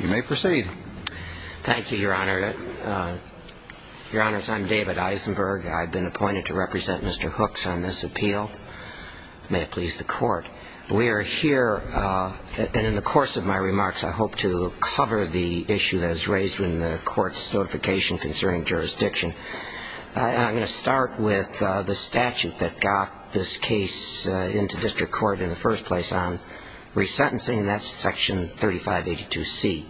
You may proceed. Thank you, your honor. Your honors, I'm David Eisenberg. I've been appointed to represent Mr. Hooks on this appeal. May it please the court. We are here, and in the course of my remarks, I hope to cover the issue that is raised in the court's notification concerning jurisdiction. I'm going to start with the statute that got this case into district court in the first place on resentencing. That's section 3582C of the statute.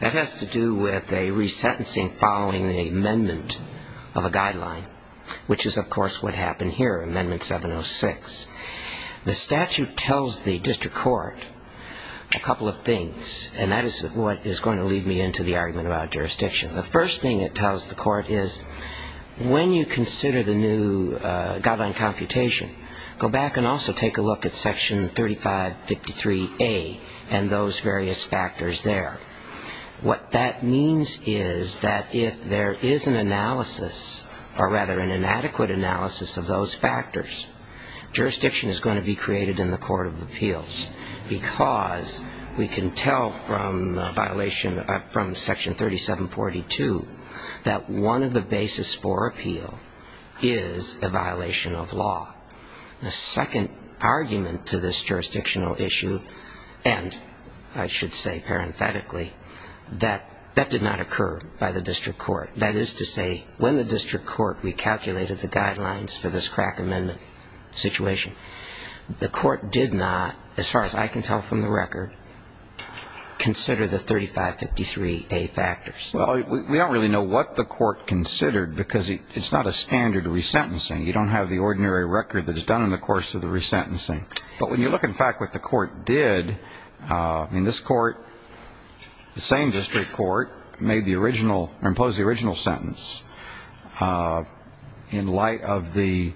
That has to do with a resentencing following the amendment of a guideline, which is, of course, what happened here, amendment 706. The statute tells the district court a couple of things, and that is what is going to lead me into the argument about jurisdiction. The first thing it tells the court is, when you consider the new guideline computation, go back and also take a look at section 3553A and those various factors there. What that means is that if there is an analysis, or rather an inadequate analysis of those factors, jurisdiction is going to be created in the court of appeals, because we can tell from section 3742 that one of the basis for appeal is a violation of law. The second argument to this jurisdictional issue, and I should say parenthetically, is that jurisdiction is going to be created in the court of appeals. That did not occur by the district court. That is to say, when the district court recalculated the guidelines for this crack amendment situation, the court did not, as far as I can tell from the record, consider the 3553A factors. Well, we don't really know what the court considered, because it's not a standard resentencing. You don't have the ordinary record that is done in the course of the resentencing. But when you look, in fact, at what the court did, I mean, this court, the same district court, made the original, or imposed the original sentence in light of the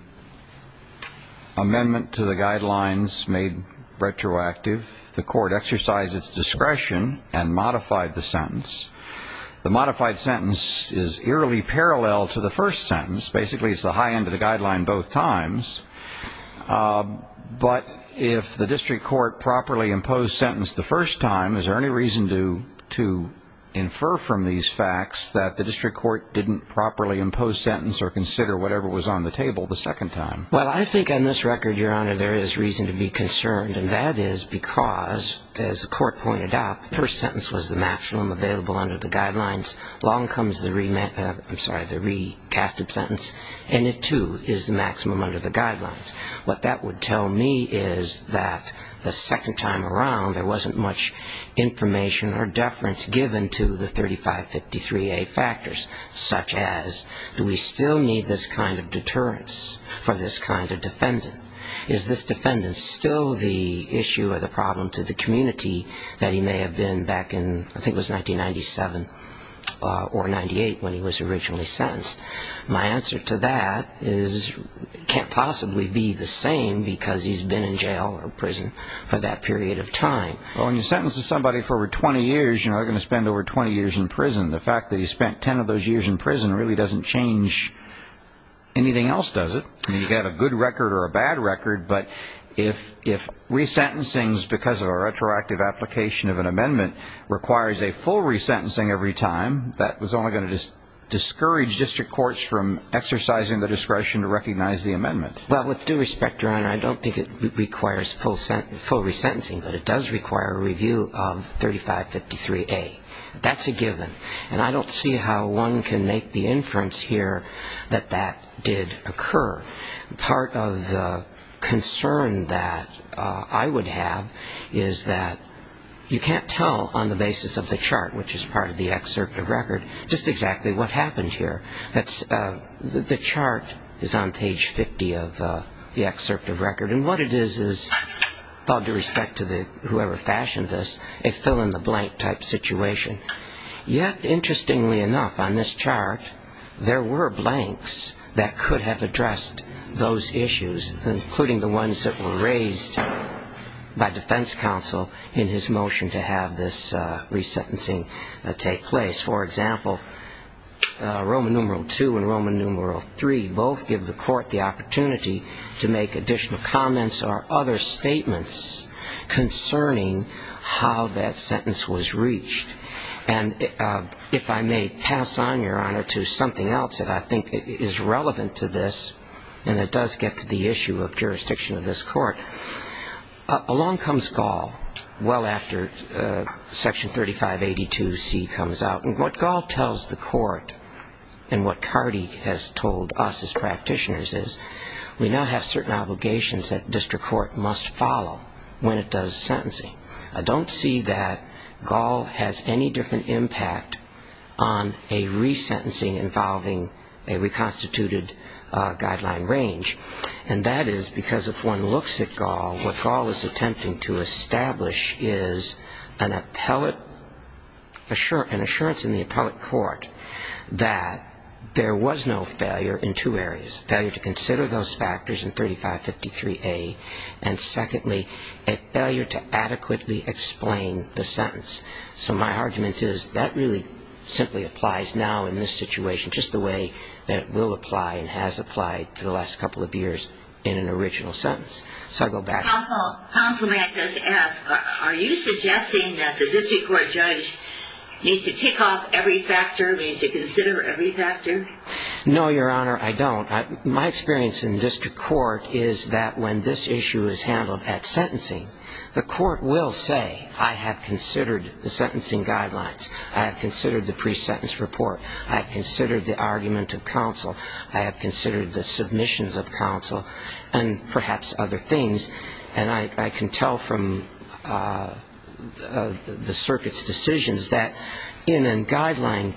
amendment to the guidelines made retroactive. The court exercised its discretion and modified the sentence. The modified sentence is eerily parallel to the first sentence. Basically, it's the high end of the guideline both times. But if the district court properly imposed sentence the first time, is there any reason to infer from these facts that the district court didn't properly impose sentence or consider whatever was on the table the second time? Well, I think on this record, Your Honor, there is reason to be concerned. And that is because, as the court pointed out, the first sentence was the maximum available under the guidelines. Along comes the re-casted sentence. And it, too, is the maximum under the guidelines. What that would tell me is that the second time around, there wasn't much information or deference given to the 3553A factors, such as, do we still need this kind of deterrence for this kind of defendant? Is this defendant still the issue or the problem to the community that he may have been back in, I think it was 1997 or 98 when he was originally sentenced? My answer to that is it can't possibly be the same because he's been in jail or prison for that period of time. Well, when you sentence somebody for over 20 years, you know, they're going to spend over 20 years in prison. The fact that he spent 10 of those years in prison really doesn't change anything else, does it? I mean, you can have a good record or a bad record, but if re-sentencing is because of a retroactive application of an amendment requires a full re-sentencing every time, that was only going to discourage district courts from exercising the discretion to recognize the amendment. Well, with due respect, Your Honor, I don't think it requires full re-sentencing, but it does require a review of 3553A. That's a given. And I don't see how one can make the inference here that that did occur. Part of the concern that I would have is that you can't tell on the basis of the chart, which is part of the excerpt of record, just exactly what happened here. The chart is on page 50 of the excerpt of record, and what it is is, with all due respect to whoever fashioned this, a fill-in-the-blank type situation. Yet, interestingly enough, on this chart, there were blanks that could have addressed those issues, including the ones that were raised by defense counsel in his motion to have this re-sentencing take place. For example, Roman numeral 2 and Roman numeral 3 both give the court the opportunity to make additional comments or other statements concerning how that sentence was reached. And if I may pass on, Your Honor, to something else that I think is relevant to this, and it does get to the issue of jurisdiction of this court. Along comes Gall well after Section 3582C comes out. And what Gall tells the court and what Cardee has told us as practitioners is we now have certain obligations that district court must follow when it does sentencing. I don't see that Gall has any different impact on a re-sentencing involving a reconstituted guideline range. And that is because if one looks at Gall, what Gall is attempting to establish is an appellate, an assurance in the appellate court that there was no failure in two areas, failure to consider those factors in 3553A, and secondly, a failure to adequately consider those factors in 3553B. And that is a failure to adequately explain the sentence. So my argument is that really simply applies now in this situation just the way that it will apply and has applied for the last couple of years in an original sentence. So I'll go back to that. Counsel, counsel may I just ask, are you suggesting that the district court judge needs to tick off every factor, needs to consider every factor? No, Your Honor, I don't. My experience in district court is that when this issue is handled at sentencing, the court will say I have considered the sentencing guidelines, I have considered the pre-sentence report, I have considered the argument of counsel, I have considered the submissions of counsel, and perhaps other things. And I can tell from the circuit's decisions that in a guideline,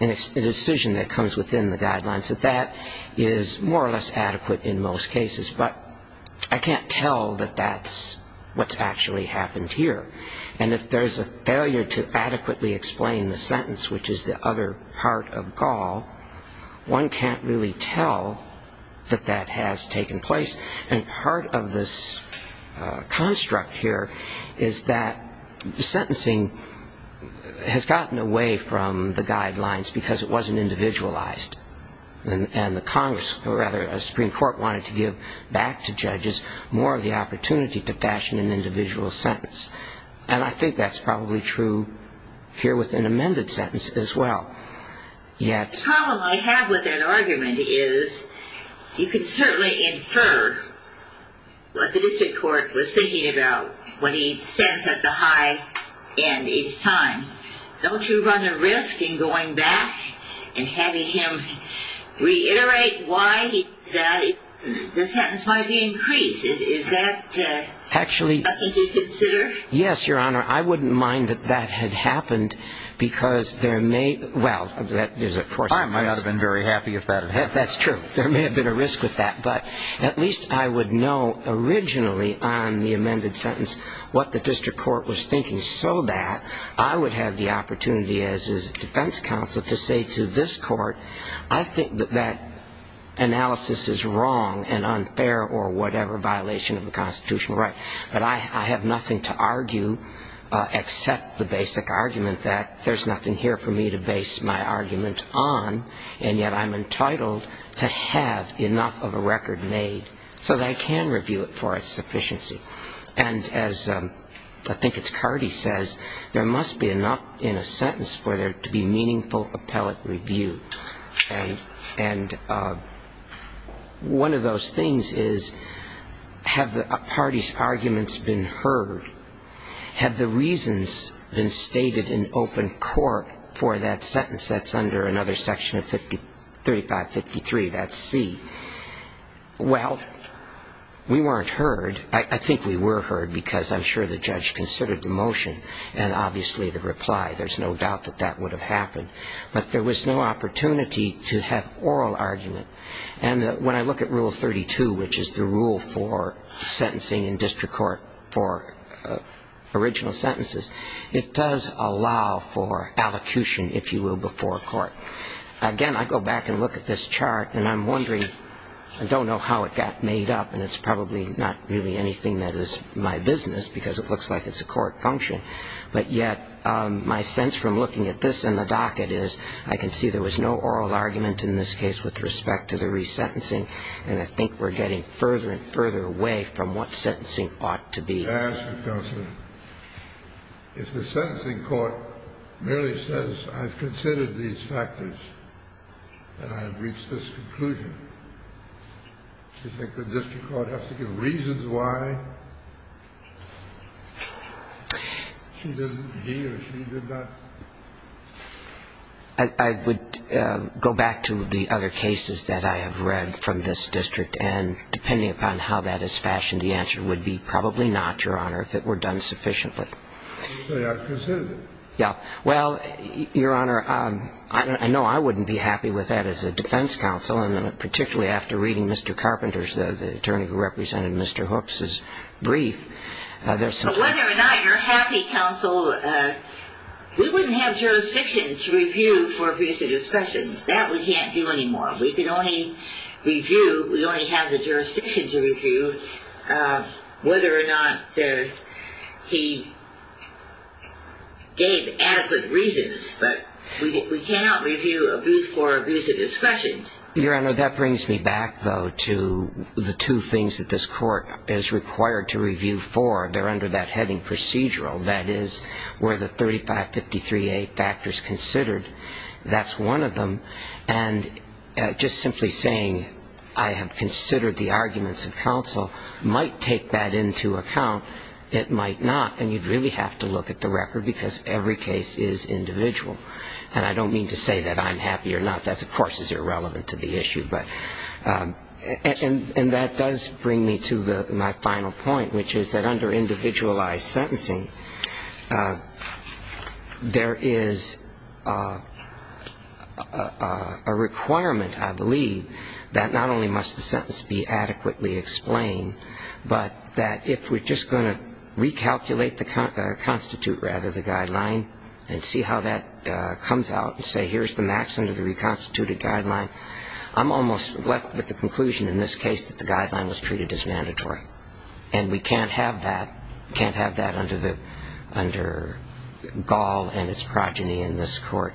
in a decision that comes within the guidelines, that that is more or less adequate in most cases. But I can't tell that that's what's actually happened here. And if there's a failure to adequately explain the sentence, which is the other part of Gaul, one can't really tell that that has taken place. And part of this construct here is that sentencing has gotten away from the guidelines because it wasn't individualized. And the Congress, or rather the Supreme Court, wanted to give back to judges more of the opportunity to fashion an individual sentence. And I think that's probably true here with an amended sentence as well. Yet... Reiterate why the sentence might be increased. Is that something to consider? Yes, Your Honor. I wouldn't mind that that had happened because there may... Well, there's of course... I might not have been very happy if that had happened. That's true. There may have been a risk with that. But at least I would know originally on the amended sentence what the district court was thinking so that I would have the opportunity as his defense counsel to say to this court, I think that that analysis is wrong and unfair or whatever violation of the constitutional right. But I have nothing to argue except the basic argument that there's nothing here for me to base my argument on. And yet I'm entitled to have enough of a record made so that I can review it for its sufficiency. And as I think it's Cardi says, there must be enough in a sentence for there to be meaningful appellate review. And one of those things is, have the parties' arguments been heard? Have the reasons been stated in open court for that sentence that's under another section of 3553, that's C? Well, we weren't heard. I think we were heard because I'm sure the judge considered the motion and obviously the reply. There's no doubt that that would have happened. But there was no opportunity to have oral argument. And when I look at Rule 32, which is the rule for sentencing in district court for original sentences, it does allow for allocution, if you will, before court. Again, I go back and look at this chart, and I'm wondering, I don't know how it got made up, and it's probably not really anything that is my business because it looks like it's a court function. But yet my sense from looking at this and the docket is I can see there was no oral argument in this case with respect to the resentencing, and I think we're getting further and further away from what sentencing ought to be. I would ask you, Counselor, if the sentencing court merely says, I've considered these factors and I've reached this conclusion, do you think the district court has to give reasons why she didn't, he or she did not? I would go back to the other cases that I have read from this district, and depending upon how that is fashioned, the answer would be probably not, Your Honor, if it were done sufficiently. You say I've considered it. Yeah. Well, Your Honor, I know I wouldn't be happy with that as a defense counsel, and particularly after reading Mr. Carpenter's, the attorney who represented Mr. Hooks' brief. But whether or not you're happy, Counsel, we wouldn't have jurisdiction to review for abuse of discretion. That we can't do anymore. We can only review, we only have the jurisdiction to review whether or not he gave adequate reasons, but we cannot review abuse for abuse of discretion. Your Honor, that brings me back, though, to the two things that this court is required to review for. They're under that heading procedural. That is, were the 3553A factors considered? That's one of them. And just simply saying I have considered the arguments of counsel might take that into account. It might not. And you'd really have to look at the record because every case is individual. And I don't mean to say that I'm happy or not. That, of course, is irrelevant to the issue. And that does bring me to my final point, which is that under individualized sentencing, there is a requirement, I believe, that not only must the sentence be adequately explained, but that if we're just going to recalculate the constitute rather, the guideline, and see how that comes out and say here's the maximum of the reconstituted guideline, I'm almost left with the conclusion in this case that the guideline was treated as mandatory. And we can't have that under Gaul and its progeny in this court.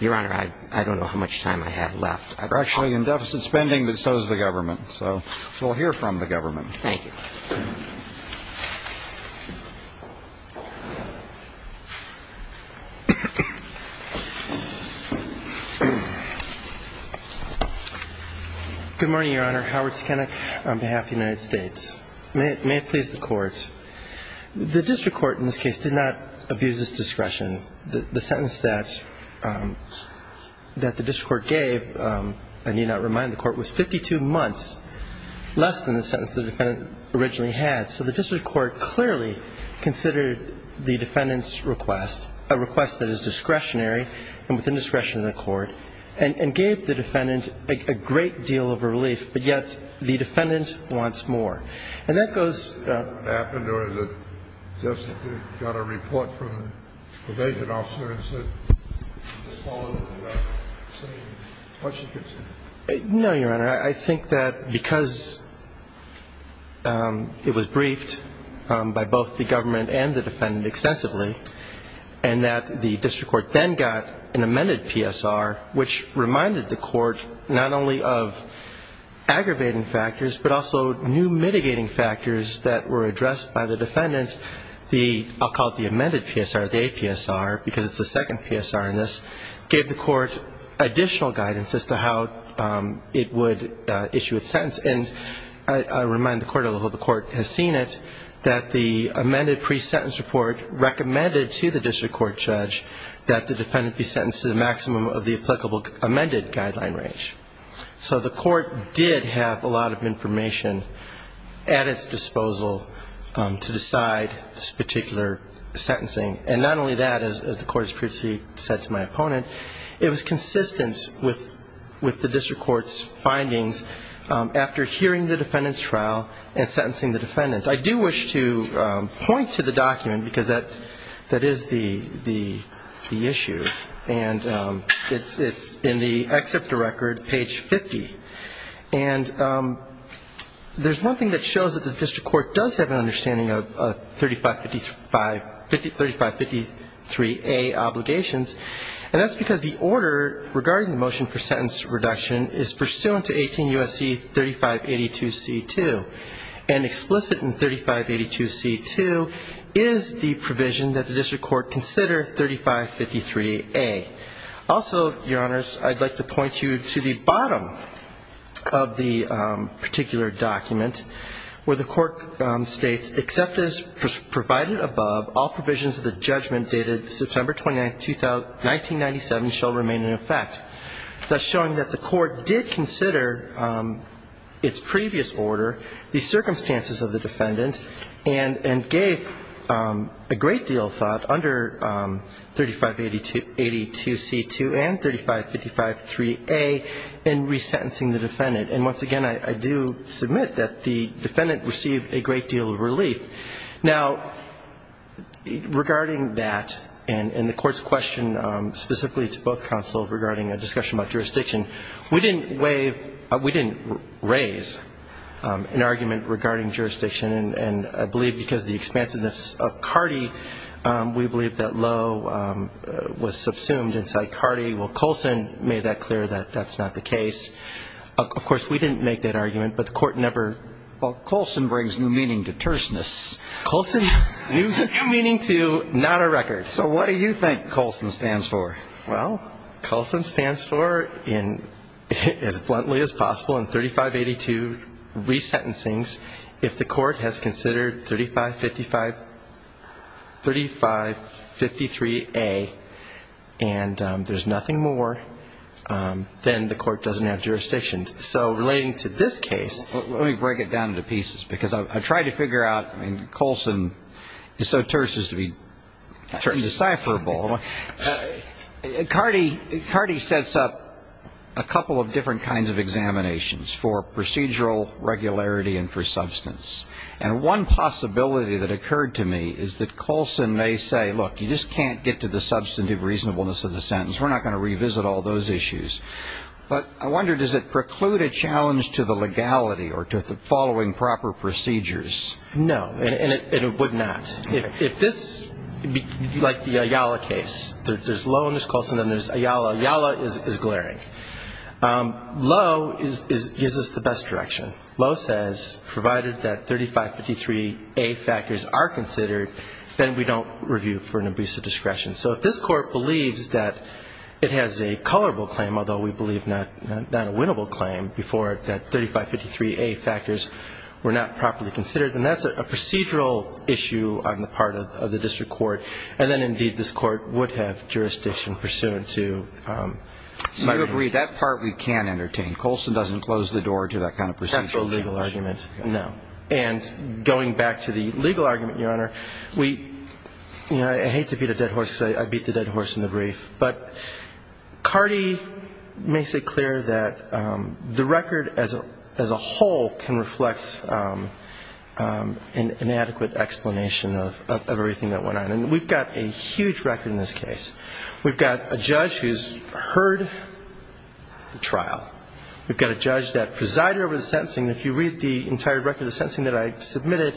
Your Honor, I don't know how much time I have left. We're actually in deficit spending, but so is the government. So we'll hear from the government. Thank you. Good morning, Your Honor. Howard Skeneck on behalf of the United States. May it please the Court. The district court in this case did not abuse its discretion. The sentence that the district court gave, I need not remind the Court, was 52 months, less than the sentence the defendant originally had. So the district court clearly considered the defendant's request, a request that is discretionary and within discretion of the Court, and gave the defendant a great deal of relief. But yet the defendant wants more. And that goes... Did that happen, or is it just that they got a report from the vacant officer and said, just follow through with that? No, Your Honor. I think that because it was briefed by both the government and the defendant extensively, and that the district court then got an amended PSR, which reminded the court not only of aggravating factors, but also new mitigating factors that were addressed by the defendant. I'll call it the amended PSR, the APSR, because it's the second PSR in this, gave the court additional guidance as to how it would issue its sentence. And I remind the Court, although the Court has seen it, that the amended pre-sentence report recommended to the district court judge that the defendant be sentenced to the maximum of the applicable amended guideline range. So the Court did have a lot of information at its disposal to decide this particular sentencing. And not only that, as the Court has previously said to my opponent, it was consistent with the district court's findings after hearing the defendant's trial and sentencing the defendant. I do wish to point to the document, because that is the issue. And it's in the excerpt of the record, page 50. And there's one thing that shows that the district court does have an understanding of 3553A obligations, and that's because the order regarding the motion for sentence reduction is pursuant to 18 U.S.C. 3582C2. And explicit in 3582C2 is the provision that the district court consider 3553A. Also, Your Honors, I'd like to point you to the bottom of the particular document, where the Court states, except as provided above, all provisions of the judgment dated September 29, 1997, shall remain in effect. Thus showing that the Court did consider its previous order, the circumstances of the defendant, and gave a great deal of thought under 3582C2 and 3553A in resentencing the defendant. And once again, I do submit that the defendant received a great deal of relief. Now, regarding that, and the Court's question specifically to both counsels regarding a discussion about jurisdiction, we didn't raise an argument regarding jurisdiction. And I believe because of the expansiveness of CARTI, we believe that low was subsumed inside CARTI. Well, Colson made that clear that that's not the case. Of course, we didn't make that argument, but the Court never ---- Colson's new meaning to not a record. So what do you think Colson stands for? Well, Colson stands for, as bluntly as possible, in 3582 resentencings, if the Court has considered 3553A and there's nothing more, then the Court doesn't have jurisdiction. So relating to this case ---- Colson is so terse as to be decipherable. CARTI sets up a couple of different kinds of examinations for procedural regularity and for substance. And one possibility that occurred to me is that Colson may say, look, you just can't get to the substantive reasonableness of the sentence. We're not going to revisit all those issues. But I wonder, does it preclude a challenge to the legality or to following proper procedures? No. And it would not. If this, like the Ayala case, there's Lowe and there's Colson, then there's Ayala. Ayala is glaring. Lowe gives us the best direction. Lowe says, provided that 3553A factors are considered, then we don't review for an abuse of discretion. So if this Court believes that it has a colorable claim, although we believe not a winnable claim, before that 3553A factors were not properly considered, then that's a procedural issue on the part of the district court. And then, indeed, this Court would have jurisdiction pursuant to ---- So you agree that part we can entertain. Colson doesn't close the door to that kind of procedure. That's a legal argument. No. And going back to the legal argument, Your Honor, we ---- I hate to beat a dead horse because I beat the dead horse in the brief. But Cardee makes it clear that the record as a whole can reflect an adequate explanation of everything that went on. And we've got a huge record in this case. We've got a judge who's heard the trial. We've got a judge that presided over the sentencing. If you read the entire record of the sentencing that I submitted,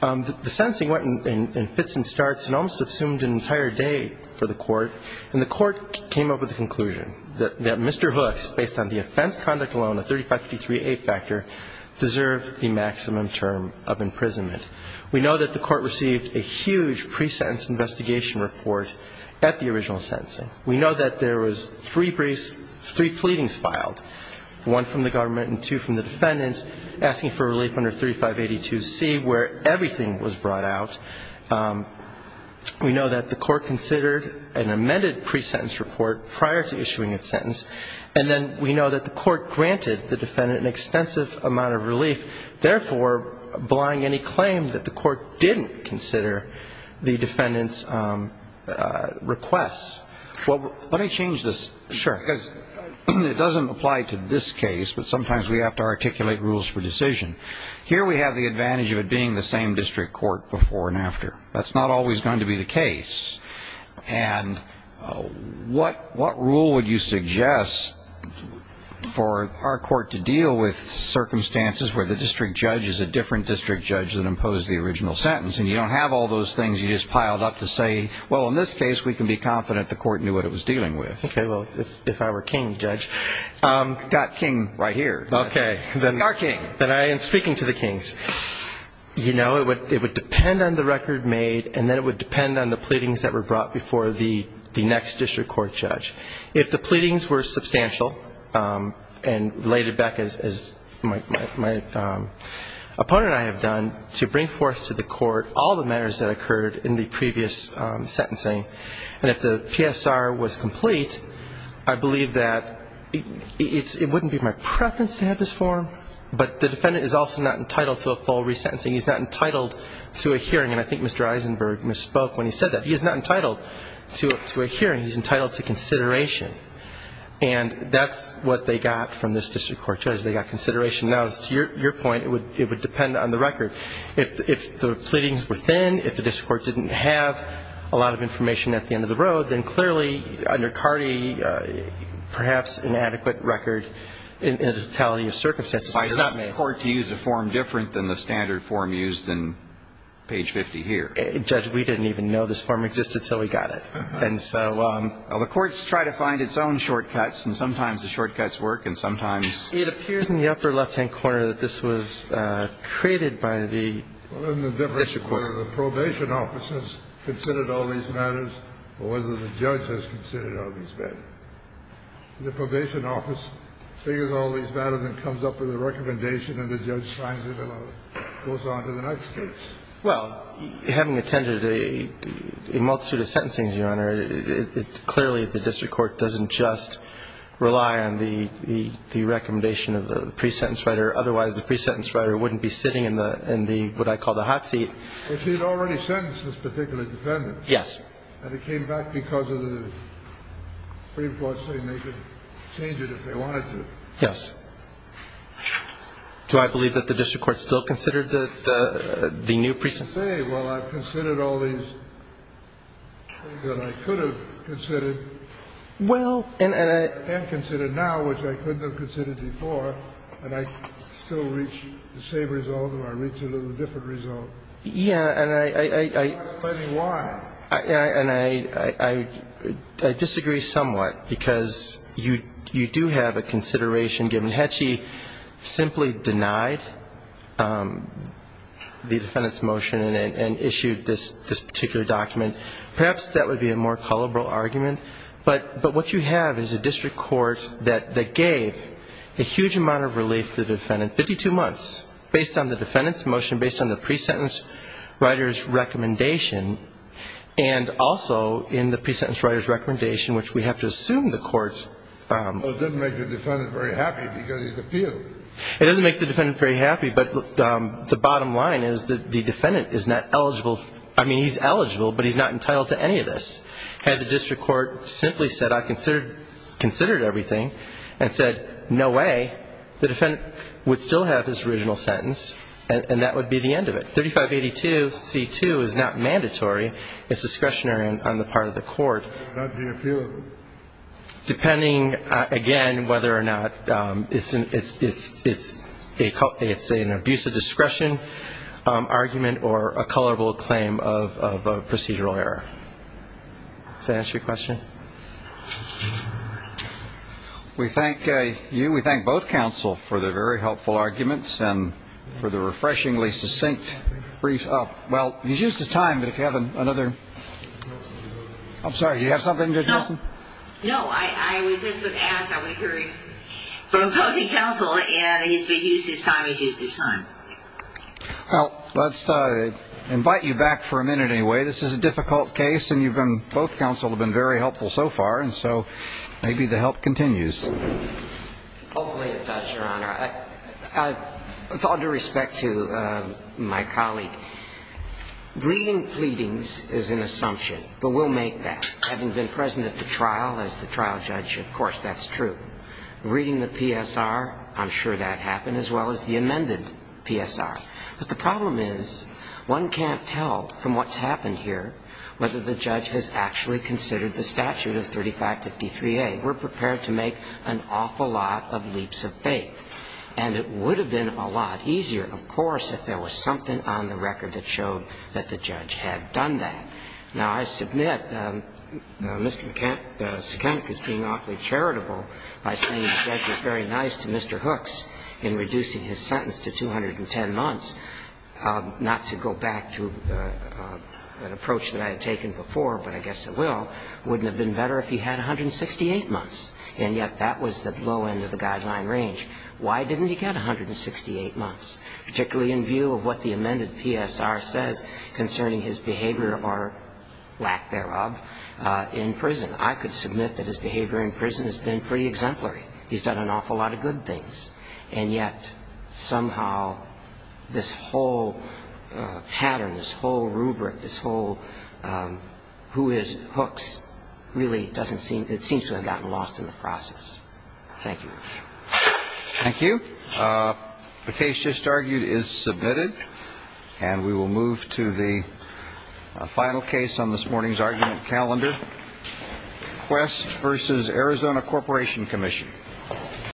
the sentencing went in fits and starts and almost assumed an entire day for the court. And the court came up with the conclusion that Mr. Hooks, based on the offense conduct alone, the 3553A factor, deserved the maximum term of imprisonment. We know that the court received a huge pre-sentence investigation report at the original sentencing. We know that there was three briefs, three pleadings filed, one from the government and two from the defendant asking for relief under 3582C where everything was brought out. We know that the court considered an amended pre-sentence report prior to issuing its sentence. And then we know that the court granted the defendant an extensive amount of relief, therefore, blying any claim that the court didn't consider the defendant's requests. Well, let me change this. Sure. Because it doesn't apply to this case, but sometimes we have to articulate rules for decision. Here we have the advantage of it being the same district court before and after. That's not always going to be the case. And what rule would you suggest for our court to deal with circumstances where the district judge is a different district judge than imposed the original sentence and you don't have all those things you just piled up to say, well, in this case, we can be confident the court knew what it was dealing with. Okay. Well, if I were king, Judge. You've got king right here. Okay. You are king. Then I am speaking to the kings. You know, it would depend on the record made and then it would depend on the pleadings that were brought before the next district court judge. If the pleadings were substantial and related back, as my opponent and I have done, to bring forth to the court all the matters that occurred in the previous sentencing and if the PSR was complete, I believe that it wouldn't be my preference to have this form, but the defendant is also not entitled to a full resentencing. He's not entitled to a hearing. And I think Mr. Eisenberg misspoke when he said that. He is not entitled to a hearing. He's entitled to consideration. And that's what they got from this district court judge. They got consideration. Now, to your point, it would depend on the record. If the pleadings were thin, if the district court didn't have a lot of information at the end of the road, then clearly under Carte, perhaps an adequate record in the totality of circumstances was not made. Why is the court to use a form different than the standard form used in page 50 here? Judge, we didn't even know this form existed until we got it. And so the courts try to find its own shortcuts, and sometimes the shortcuts work and sometimes. It appears in the upper left-hand corner that this was created by the district court. Well, isn't the difference whether the probation office has considered all these matters or whether the judge has considered all these matters? The probation office figures all these matters and comes up with a recommendation and the judge finds it and goes on to the next case. Clearly, the district court doesn't just rely on the recommendation of the pre-sentence writer. Otherwise, the pre-sentence writer wouldn't be sitting in what I call the hot seat. If he had already sentenced this particular defendant. Yes. And it came back because of the pre-report saying they could change it if they wanted to. Yes. Well, I can say, well, I've considered all these things that I could have considered. Well, and I. And considered now, which I couldn't have considered before. And I still reach the same result or I reach a little different result. Yeah, and I. I'm not explaining why. And I disagree somewhat because you do have a consideration given. I mean, had she simply denied the defendant's motion and issued this particular document, perhaps that would be a more colorful argument. But what you have is a district court that gave a huge amount of relief to the defendant, 52 months, based on the defendant's motion, based on the pre-sentence writer's recommendation, and also in the pre-sentence writer's recommendation, which we have to assume the court. Well, it doesn't make the defendant very happy because he's appealed. It doesn't make the defendant very happy. But the bottom line is that the defendant is not eligible. I mean, he's eligible, but he's not entitled to any of this. Had the district court simply said, I considered everything, and said, no way, the defendant would still have his original sentence, and that would be the end of it. 3582C2 is not mandatory. It's discretionary on the part of the court. Not being appealed. Depending, again, whether or not it's an abuse of discretion argument or a colorable claim of procedural error. Does that answer your question? We thank you. We thank both counsel for the very helpful arguments and for the refreshingly succinct brief. Well, you've used this time, but if you have another. I'm sorry. Do you have something to add? No. I was just going to ask how we heard from both counsel, and he's used his time. He's used his time. Well, let's invite you back for a minute anyway. This is a difficult case, and both counsel have been very helpful so far, and so maybe the help continues. Hopefully it does, Your Honor. With all due respect to my colleague, Breeding pleadings is an assumption, but we'll make that. Having been present at the trial as the trial judge, of course that's true. Breeding the PSR, I'm sure that happened, as well as the amended PSR. But the problem is one can't tell from what's happened here whether the judge has actually considered the statute of 3553A. We're prepared to make an awful lot of leaps of faith, and it would have been a lot easier, of course, if there was something on the record that showed that the judge had done that. Now, I submit Mr. Sekenek is being awfully charitable by saying the judge was very nice to Mr. Hooks in reducing his sentence to 210 months, not to go back to an approach that I had taken before, but I guess it will, wouldn't have been better if he had 168 months. And yet that was the low end of the guideline range. Why didn't he get 168 months? Particularly in view of what the amended PSR says concerning his behavior, or lack thereof, in prison. I could submit that his behavior in prison has been pretty exemplary. He's done an awful lot of good things. And yet somehow this whole pattern, this whole rubric, this whole who is Hooks, really doesn't seem to have gotten lost in the process. Thank you. Thank you. The case just argued is submitted. And we will move to the final case on this morning's argument calendar. Quest v. Arizona Corporation Commission.